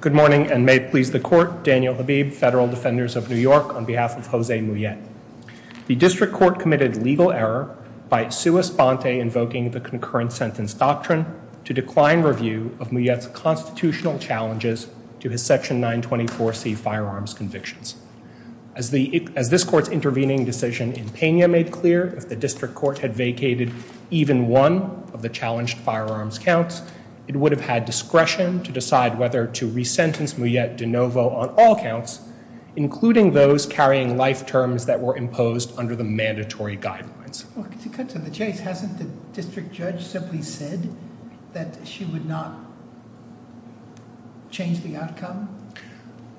Good morning, and may it please the Court, Daniel Habib, Federal Defenders of New York, on behalf of Jose Mujet. The District Court committed legal error by sua sponte invoking the concurrent sentence doctrine to decline review of Mujet's constitutional challenges to his Section 924C firearms convictions. As this Court's intervening decision in Pena made clear, if the District Court had vacated even one of the challenged firearms counts, it would have had discretion to decide whether to re-sentence Mujet de novo on all counts, including those carrying life terms that were imposed under the mandatory guidelines. Well, to cut to the chase, hasn't the District Judge simply said that she would not change the outcome?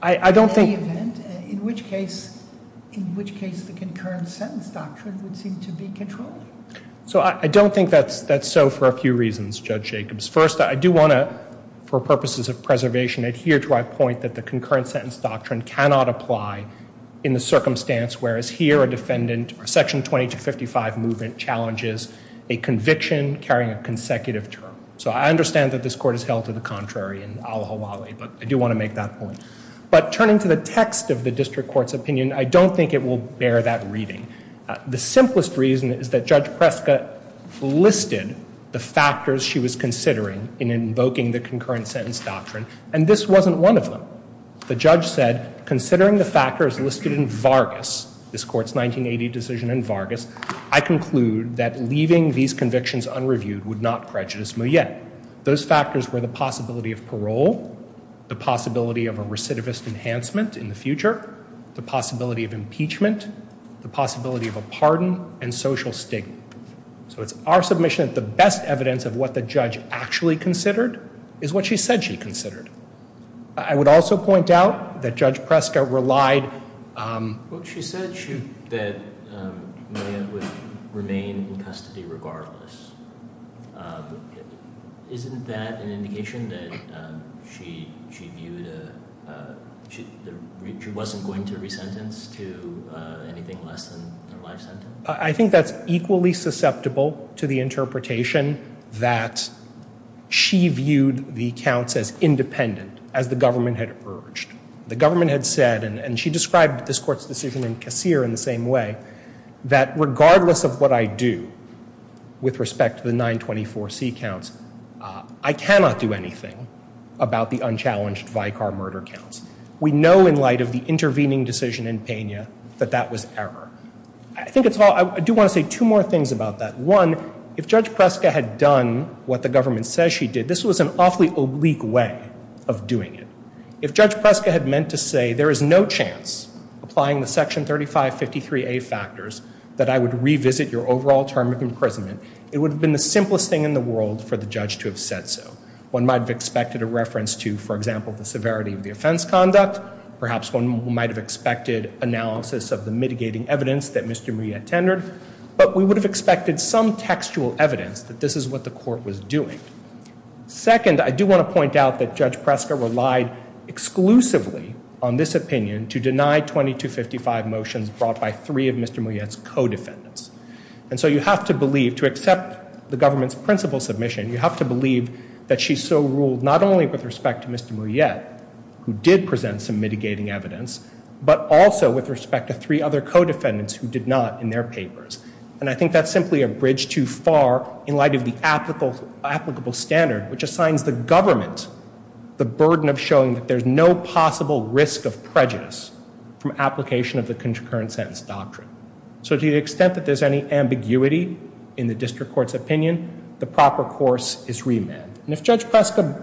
I don't think... In any event, in which case, in which case the concurrent sentence doctrine would seem to be controlled? So I don't think that's so for a few reasons, Judge Jacobs. First, I do want to, for purposes of preservation, adhere to my point that the concurrent sentence doctrine cannot apply in the circumstance whereas here a defendant, Section 2255 movement, challenges a conviction carrying a consecutive term. So I understand that this Court has held to the contrary and aloha wale, but I do want to make that point. But turning to the text of the District Court's opinion, I don't think it will bear that reading. The simplest reason is that Judge Preska listed the factors she was considering in invoking the factors listed in Vargas, this Court's 1980 decision in Vargas. I conclude that leaving these convictions unreviewed would not prejudice Mouyet. Those factors were the possibility of parole, the possibility of a recidivist enhancement in the future, the possibility of impeachment, the possibility of a pardon, and social stigma. So it's our submission that the best evidence of what the judge actually considered is what she said she considered. I would also point out that Judge Preska relied... She said that Mouyet would remain in custody regardless. Isn't that an indication that she wasn't going to re-sentence to anything less than her life sentence? I think that's equally susceptible to the interpretation that she viewed the counts as independent, as the government had urged. The government had said, and she described this Court's decision in Kassir in the same way, that regardless of what I do with respect to the 924c counts, I cannot do anything about the unchallenged Vicar murder counts. We know in light of the intervening decision in Peña that that was error. I think it's all... I do want to say two more things about that. One, if Judge Preska had done what the government says she did, this was an awfully oblique way of doing it. If Judge Preska had meant to say, there is no chance, applying the Section 3553a factors, that I would revisit your overall term of imprisonment, it would have been the simplest thing in the world for the judge to have said so. One might have expected a reference to, for example, the severity of the offense conduct. Perhaps one might have expected analysis of the mitigating evidence that Mr. Mouyet tendered. But we would have expected some textual evidence that this is what the Court was doing. Second, I do want to point out that Judge Preska relied exclusively on this opinion to deny 2255 motions brought by three of Mr. Mouyet's co-defendants. And so you have to believe, to accept the government's principle submission, you have to believe that she so ruled not only with respect to Mr. Mouyet, who did present some mitigating evidence, but also with respect to three other co-defendants who did not in their papers. And I have the applicable standard, which assigns the government the burden of showing that there's no possible risk of prejudice from application of the concurrent sentence doctrine. So to the extent that there's any ambiguity in the District Court's opinion, the proper course is remand. And if Judge Preska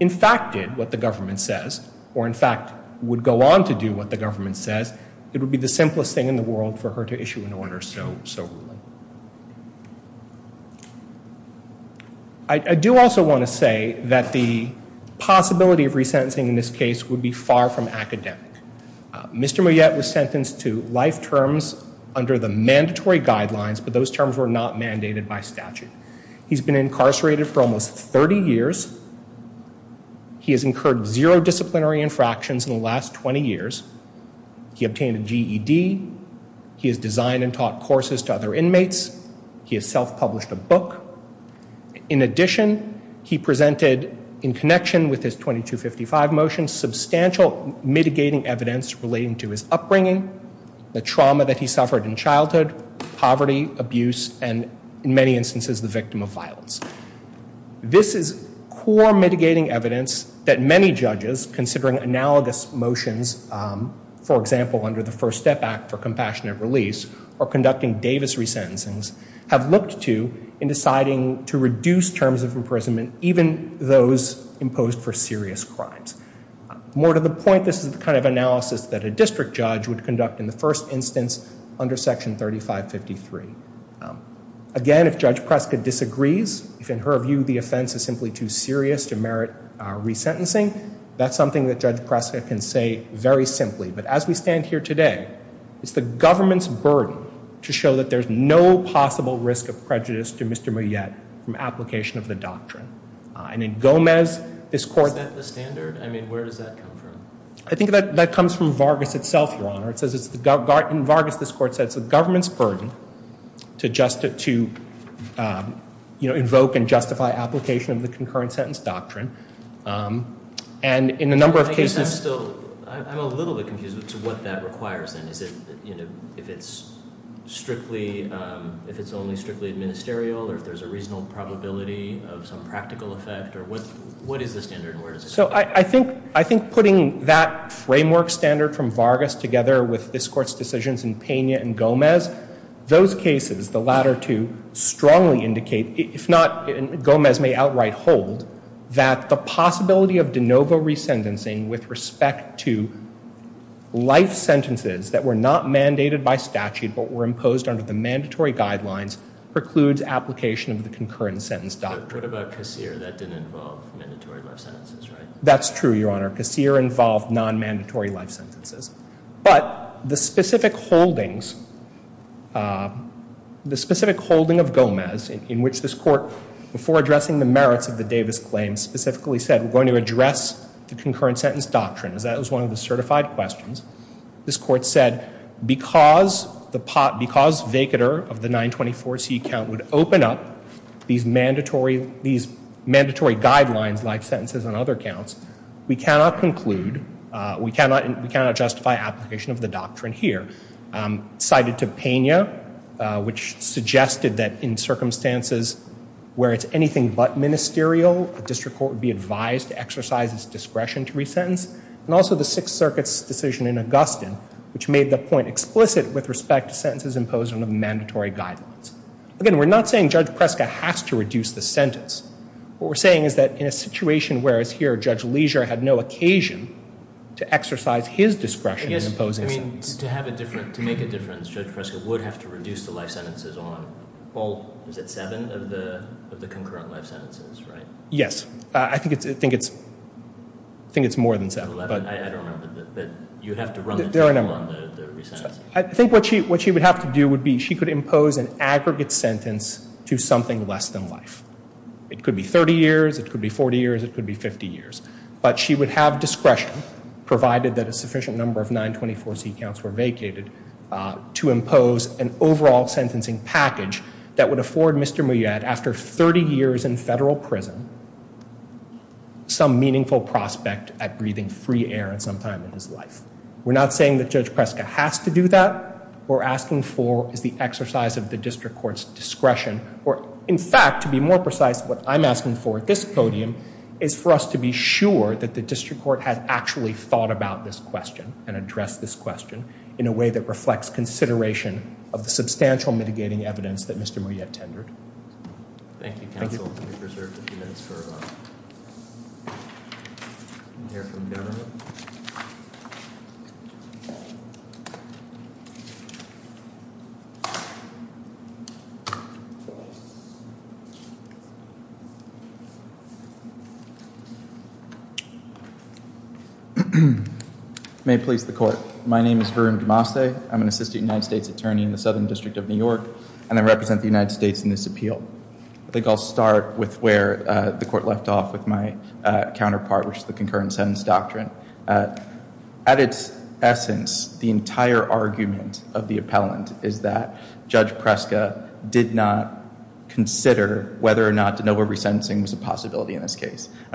in fact did what the government says, or in fact would go on to do what the government says, it would be the simplest thing in the world for her to issue an order so ruling. I do also want to say that the possibility of resentencing in this case would be far from academic. Mr. Mouyet was sentenced to life terms under the mandatory guidelines, but those terms were not mandated by statute. He's been incarcerated for almost 30 years. He has incurred zero disciplinary infractions in the last 20 years. He obtained a GED. He has designed and taught courses to other inmates. He has self-published a book. In addition, he presented, in connection with his 2255 motion, substantial mitigating evidence relating to his upbringing, the trauma that he suffered in childhood, poverty, abuse, and in many instances the victim of violence. This is core mitigating evidence that many judges, considering analogous motions, for example, under the First Step Act for Compassionate Release, or conducting Davis resentencings, have looked to in deciding to reduce terms of imprisonment, even those imposed for serious crimes. More to the point, this is the kind of analysis that a district judge would conduct in the first instance under Section 3553. Again, if Judge Preska disagrees, if in her view the offense is simply too serious to merit resentencing, that's something that Judge Preska can say very simply. But as we understand here today, it's the government's burden to show that there's no possible risk of prejudice to Mr. Mouillette from application of the doctrine. And in Gomez, this Court... Is that the standard? I mean, where does that come from? I think that that comes from Vargas itself, Your Honor. It says it's the... in Vargas, this Court says it's the government's burden to just... to invoke and justify application of the concurrent sentence doctrine. And in a number of cases... I'm a little bit confused as to what that requires then. Is it, you know, if it's strictly... if it's only strictly administerial, or if there's a reasonable probability of some practical effect, or what is the standard and where does it come from? So I think putting that framework standard from Vargas together with this Court's decisions in Pena and Gomez, those cases, the latter two, strongly indicate, if not Gomez may outright hold, that the possibility of de novo re-sentencing with respect to life sentences that were not mandated by statute, but were imposed under the mandatory guidelines, precludes application of the concurrent sentence doctrine. What about Casir? That didn't involve mandatory life sentences, right? That's true, Your Honor. Casir involved non-mandatory life sentences. But the specific holdings... the specific holding of Gomez, in which this Court, before addressing the merits of the Davis claims, specifically said, we're going to address the concurrent sentence doctrine, as that was one of the certified questions. This Court said, because the pot... because vacatur of the 924c count would open up these mandatory... these mandatory guidelines, life sentences, and other counts, we cannot conclude... we cannot... we cannot justify application of the doctrine here. Cited to Pena, which suggested that in circumstances where it's anything but ministerial, a district court would be advised to exercise its discretion to re-sentence. And also the Sixth Circuit's decision in Augustine, which made the point explicit with respect to sentences imposed under the mandatory guidelines. Again, we're not saying Judge Preska has to reduce the sentence. What we're saying is that in a situation where, as here, Judge Leisure had no occasion to exercise his discretion in imposing sentences. To have a different... to make a difference, Judge Preska would have to reduce the life sentences on all... is it seven of the concurrent life sentences, right? Yes. I think it's... I think it's... I think it's more than seven. Eleven? I don't remember. But you have to run the table on the re-sentencing. I think what she... what she would have to do would be, she could impose an aggregate sentence to something less than life. It could be 30 years, it could be 40 years, it could be 50 years. But she would have discretion, provided that a sufficient number of 924C counts were vacated, to impose an overall sentencing package that would afford Mr. Muyad, after 30 years in federal prison, some meaningful prospect at breathing free air at some time in his life. We're not saying that Judge Preska has to do that. What we're asking for is the exercise of the district court's discretion. Or, in fact, to be more precise, what I'm asking for at this podium is for us to be sure that the district court has actually thought about this question, and addressed this question, in a way that reflects consideration of the substantial mitigating evidence that Mr. Muyad tendered. Thank you, counsel. We have reserved a few minutes for... to hear from the government. May it please the court. My name is Varun Damase. I'm an assistant United States attorney in the Southern District of New York, and I represent the United States in this appeal. I think I'll start with where the court left off with my counterpart, which is the concurrent sentence doctrine. At its essence, the entire argument of the appellant is that Judge Preska did not consider I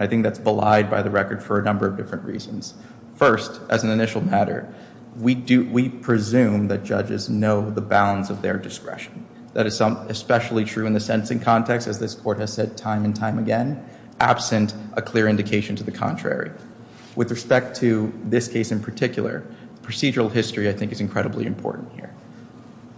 think that's belied by the record for a number of different reasons. First, as an initial matter, we presume that judges know the bounds of their discretion. That is especially true in the sentencing context, as this court has said time and time again, absent a clear indication to the contrary. With respect to this case in particular, procedural history, I think, is incredibly important here.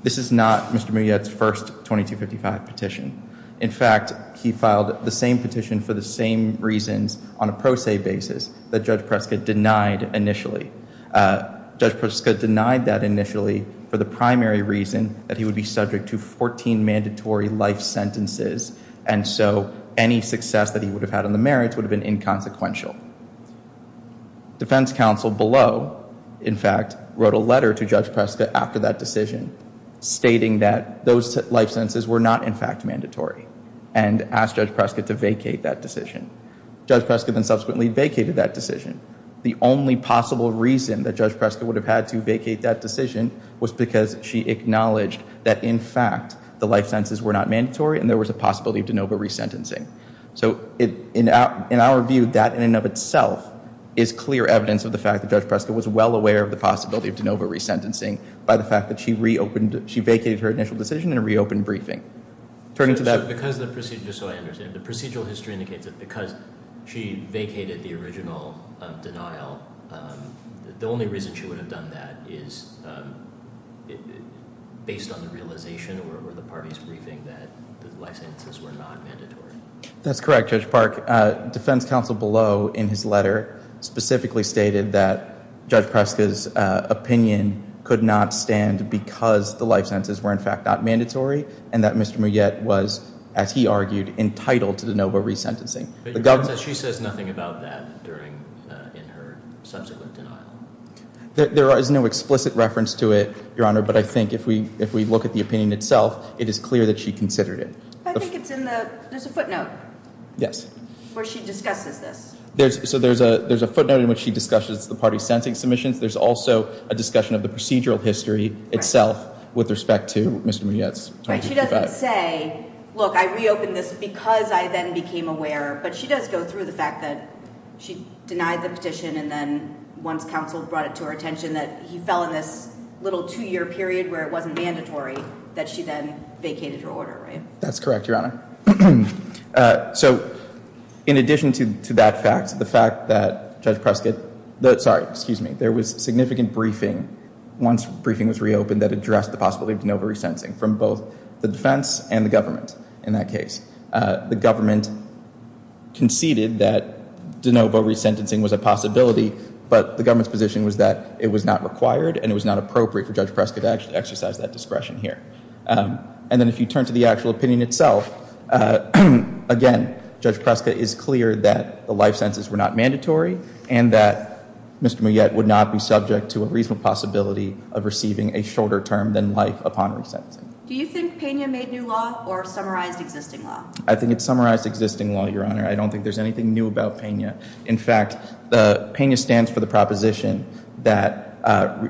This is not Mr. Muyad's first 2255 petition. In fact, he filed the same petition for the same reasons on a pro se basis that Judge Preska denied initially. Judge Preska denied that initially for the primary reason that he would be subject to 14 mandatory life sentences. And so any success that he would have had on the merits would have been inconsequential. Defense counsel below, in fact, wrote a letter to Judge Preska after that decision, stating that those life sentences were not, in fact, mandatory, and asked Judge Preska to vacate that decision. Judge Preska then subsequently vacated that decision. The only possible reason that Judge Preska would have had to vacate that decision was because she acknowledged that, in fact, the life sentences were not mandatory and there was a possibility of de novo resentencing. So in our view, that in and of itself is clear evidence of the fact that Judge Preska was well aware of the possibility of de novo resentencing by the fact that she vacated her initial decision in a reopened briefing. Just so I understand, the procedural history indicates that because she vacated the original denial, the only reason she would have done that is based on the realization or the party's briefing that the life sentences were not mandatory. That's correct, Judge Park. Defense counsel below, in his letter, specifically stated that Judge Preska's opinion could not stand because the life sentences were, in fact, not mandatory, and that Mr. Mouillet was, as he argued, entitled to de novo resentencing. But she says nothing about that during her subsequent denial. There is no explicit reference to it, Your Honor, but I think if we look at the opinion itself, it is clear that she considered it. I think it's in the, there's a footnote. Yes. Where she discusses this. So there's a footnote in which she discusses the party's sentencing submissions. There's also a discussion of the procedural history itself with respect to Mr. Mouillet's. Right. She doesn't say, look, I reopened this because I then became aware, but she does go through the fact that she denied the petition and then once counsel brought it to her attention that he fell in this little two-year period where it wasn't mandatory that she then vacated her order, right? That's correct, Your Honor. So in addition to that fact, the fact that Judge Prescott, sorry, excuse me, there was significant briefing once briefing was reopened that addressed the possibility of de novo resentencing from both the defense and the government. In that case, the government conceded that de novo resentencing was a possibility, but the government's position was that it was not required and it was not appropriate for Judge Prescott to exercise that discretion here. And then if you turn to the actual opinion itself, again, Judge Prescott is clear that the life sentences were not mandatory and that Mr. Mouillet would not be subject to a reasonable possibility of receiving a shorter term than life upon resentencing. Do you think Pena made new law or summarized existing law? I think it's summarized existing law, Your Honor. I don't think there's anything new about Pena. In fact, the Pena stands for the proposition that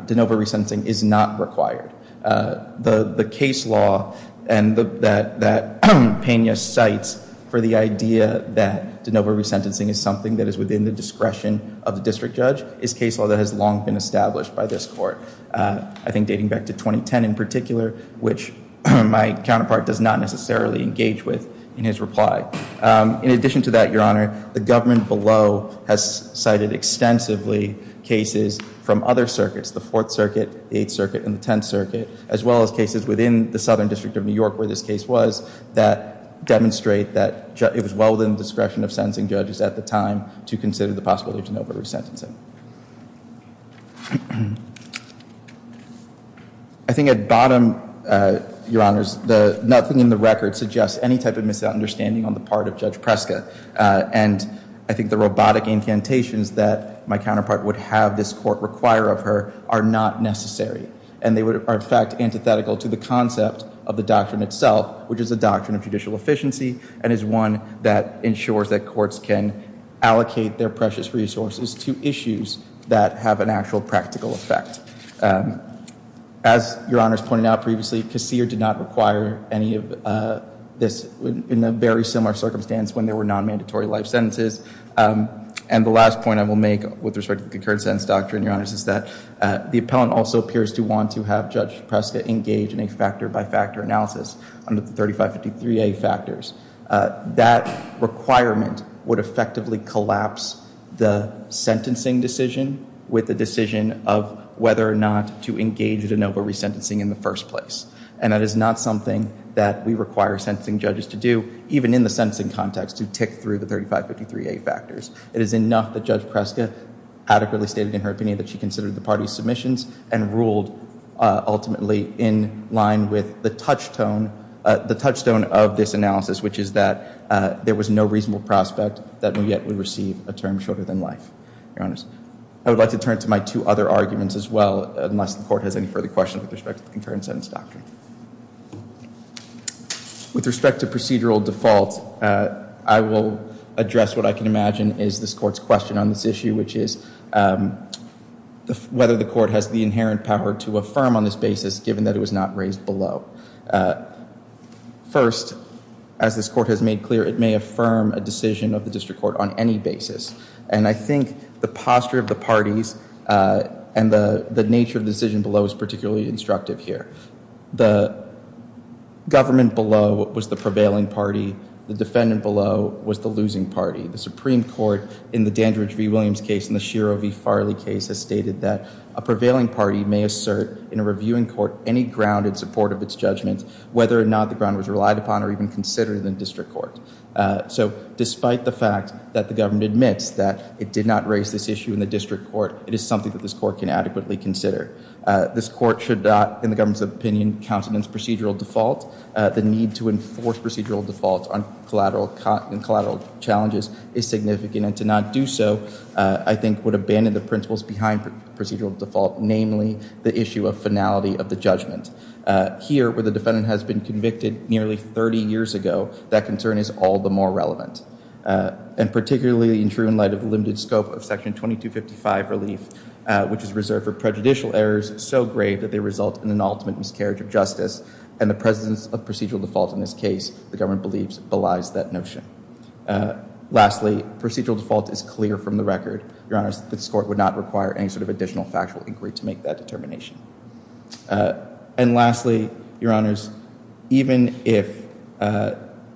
de novo resentencing is not required. The case law that Pena cites for the idea that de novo resentencing is something that is within the discretion of the district judge is case law that has long been established by this court. I think dating back to 2010 in particular, which my counterpart does not necessarily engage with in his reply. In addition to that, Your Honor, the government below has cited extensively cases from other as well as cases within the Southern District of New York where this case was that demonstrate that it was well within the discretion of sentencing judges at the time to consider the possibility of de novo resentencing. I think at bottom, Your Honors, nothing in the record suggests any type of misunderstanding on the part of Judge Prescott. And I think the robotic incantations that my counterpart would have this court require of her are not necessary. And they are, in fact, antithetical to the concept of the doctrine itself, which is a doctrine of judicial efficiency and is one that ensures that courts can allocate their precious resources to issues that have an actual practical effect. As Your Honors pointed out previously, Casere did not require any of this in a very similar circumstance when there were non-mandatory life sentences. And the last point I will make with respect to the concurrent sentence doctrine, Your Honors, is that the appellant also appears to want to have Judge Prescott engage in a factor-by-factor analysis under the 3553A factors. That requirement would effectively collapse the sentencing decision with the decision of whether or not to engage in de novo resentencing in the first place. And that is not something that we require sentencing judges to do, even in the sentencing context, to tick through the 3553A factors. It is enough that Judge Prescott adequately stated in her opinion that she considered the party's submissions and ruled ultimately in line with the touchstone of this analysis, which is that there was no reasonable prospect that we yet would receive a term shorter than life, Your Honors. I would like to turn to my two other arguments as well, unless the court has any further questions with respect to the concurrent sentence doctrine. With respect to procedural default, I will address what I can imagine is this court's question on this issue, which is whether the court has the inherent power to affirm on this basis, given that it was not raised below. First, as this court has made clear, it may affirm a decision of the district court on any basis. And I think the posture of the parties and the nature of the decision below is particularly instructive here. The government below was the prevailing party. The defendant below was the losing party. The Supreme Court, in the Dandridge v. Williams case and the Shiro v. Farley case, has stated that a prevailing party may assert, in a reviewing court, any grounded support of its judgment, whether or not the ground was relied upon or even considered in the district court. So despite the fact that the government admits that it did not raise this issue in the district court, it is something that this court can adequately consider. This court should not, in the government's opinion, count it as procedural default. The need to enforce procedural default on collateral challenges is significant. And to not do so, I think, would abandon the principles behind procedural default, namely the issue of finality of the judgment. Here, where the defendant has been convicted nearly 30 years ago, that concern is all the more relevant. And particularly in true light of the limited scope of Section 2255 relief, which is reserved for prejudicial errors so grave that they result in an ultimate miscarriage of justice and the presence of procedural default in this case, the government believes belies that notion. Lastly, procedural default is clear from the record. Your Honors, this court would not require any sort of additional factual inquiry to make that determination. And lastly, Your Honors, even if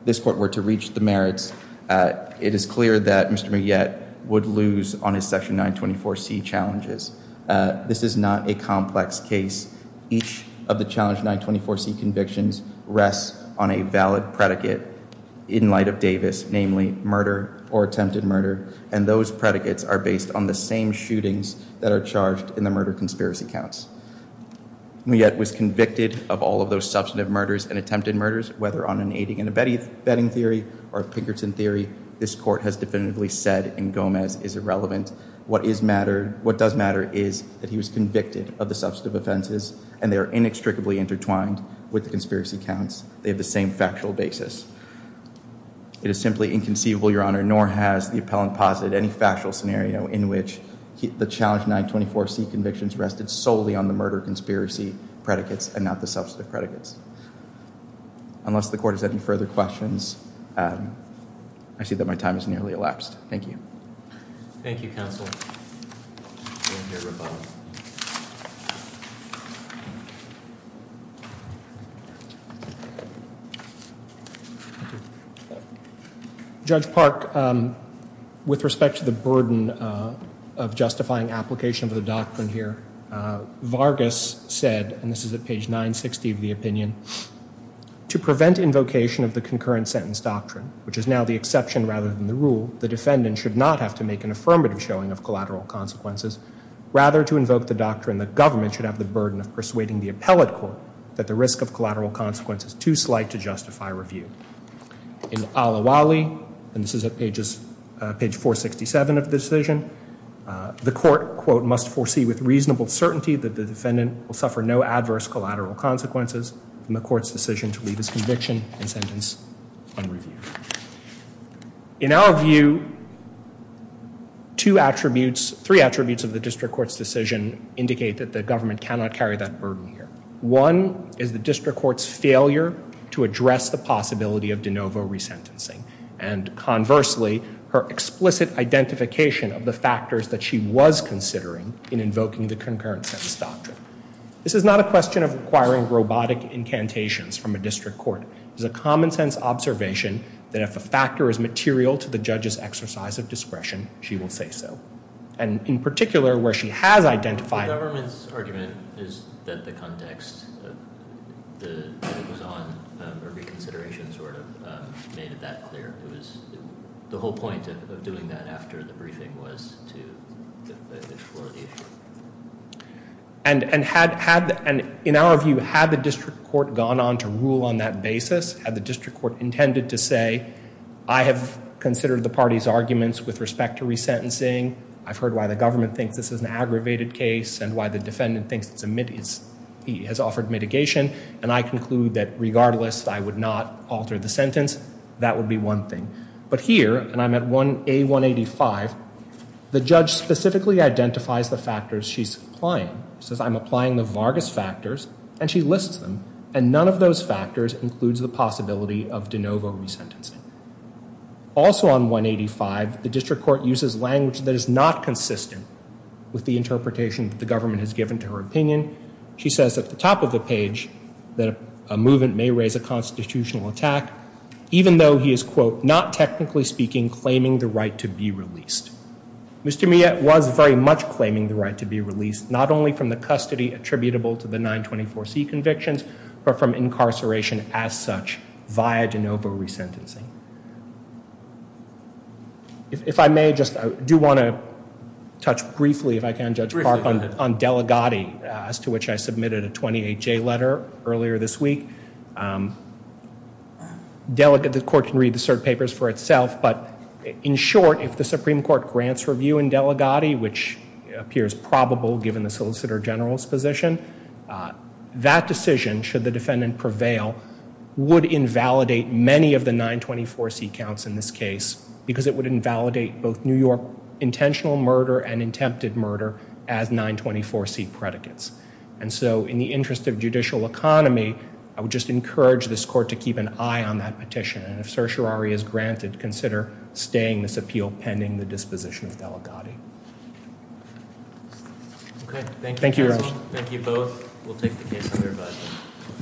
this court were to reach the merits, it is clear that Mr. Muget would lose on his Section 924C challenges. This is not a complex case. Each of the Challenge 924C convictions rests on a valid predicate in light of Davis, namely murder or attempted murder. And those predicates are based on the same shootings that are charged in the murder conspiracy counts. Muget was convicted of all of those substantive murders and attempted murders, whether on an aiding and abetting theory or Pinkerton theory, this court has definitively said in Gomez is irrelevant. What does matter is that he was convicted of the substantive offenses and they are inextricably intertwined with the conspiracy counts. They have the same factual basis. It is simply inconceivable, Your Honor, nor has the appellant posited any factual scenario in which the Challenge 924C convictions rested solely on the murder conspiracy predicates and not the substantive predicates. Unless the court has any further questions, I see that my time is nearly elapsed. Thank you. Thank you, counsel. Judge Park, with respect to the burden of justifying application of the doctrine here, Vargas said, and this is at page 960 of the opinion, to prevent invocation of the concurrent sentence doctrine, which is now the exception rather than the rule, the defendant should not have to make an affirmative showing of collateral consequences rather to invoke the doctrine that government should have the burden of persuading the appellate court that the risk of collateral consequence is too slight to justify review. In Al-Awali, and this is at page 467 of the decision, will suffer no adverse collateral consequences from the court's decision to leave his conviction and sentence unreviewed. In our view, three attributes of the district court's decision indicate that the government cannot carry that burden here. One is the district court's failure to address the possibility of de novo resentencing and conversely, her explicit identification of the factors that she was considering in invoking the concurrent sentence doctrine. This is not a question of acquiring robotic incantations from a district court. It is a common sense observation that if a factor is material to the judge's exercise of discretion, she will say so. And in particular, where she has identified- The government's argument is that the context, that it was on reconsideration sort of made it that clear. The whole point of doing that after the briefing was to explore the issue. And in our view, had the district court gone on to rule on that basis, had the district court intended to say, I have considered the party's arguments with respect to resentencing. I've heard why the government thinks this is an aggravated case and why the defendant thinks he has offered mitigation. And I conclude that regardless, I would not alter the sentence. That would be one thing. But here, and I'm at A185, the judge specifically identifies the factors she's applying. She says, I'm applying the Vargas factors and she lists them. And none of those factors includes the possibility of de novo resentencing. Also on 185, the district court uses language that is not consistent with the interpretation that the government has given to her opinion. She says at the top of the page that a movement may raise a constitutional attack. Even though he is, quote, not technically speaking, claiming the right to be released. Mr. Mia was very much claiming the right to be released, not only from the custody attributable to the 924C convictions, but from incarceration as such via de novo resentencing. If I may, I do want to touch briefly, if I can, Judge Clark, on Delegati, as to which I submitted a 28J letter earlier this week. The court can read the cert papers for itself. But in short, if the Supreme Court grants review in Delegati, which appears probable given the solicitor general's position, that decision, should the defendant prevail, would invalidate many of the 924C counts in this case. Because it would invalidate both New York intentional murder and attempted murder as 924C predicates. And so in the interest of judicial economy, I would just encourage this court to keep an eye on that petition. And if certiorari is granted, consider staying this appeal pending the disposition of Delegati. Okay, thank you. Thank you, Your Honor. Thank you both. We'll take the case under review.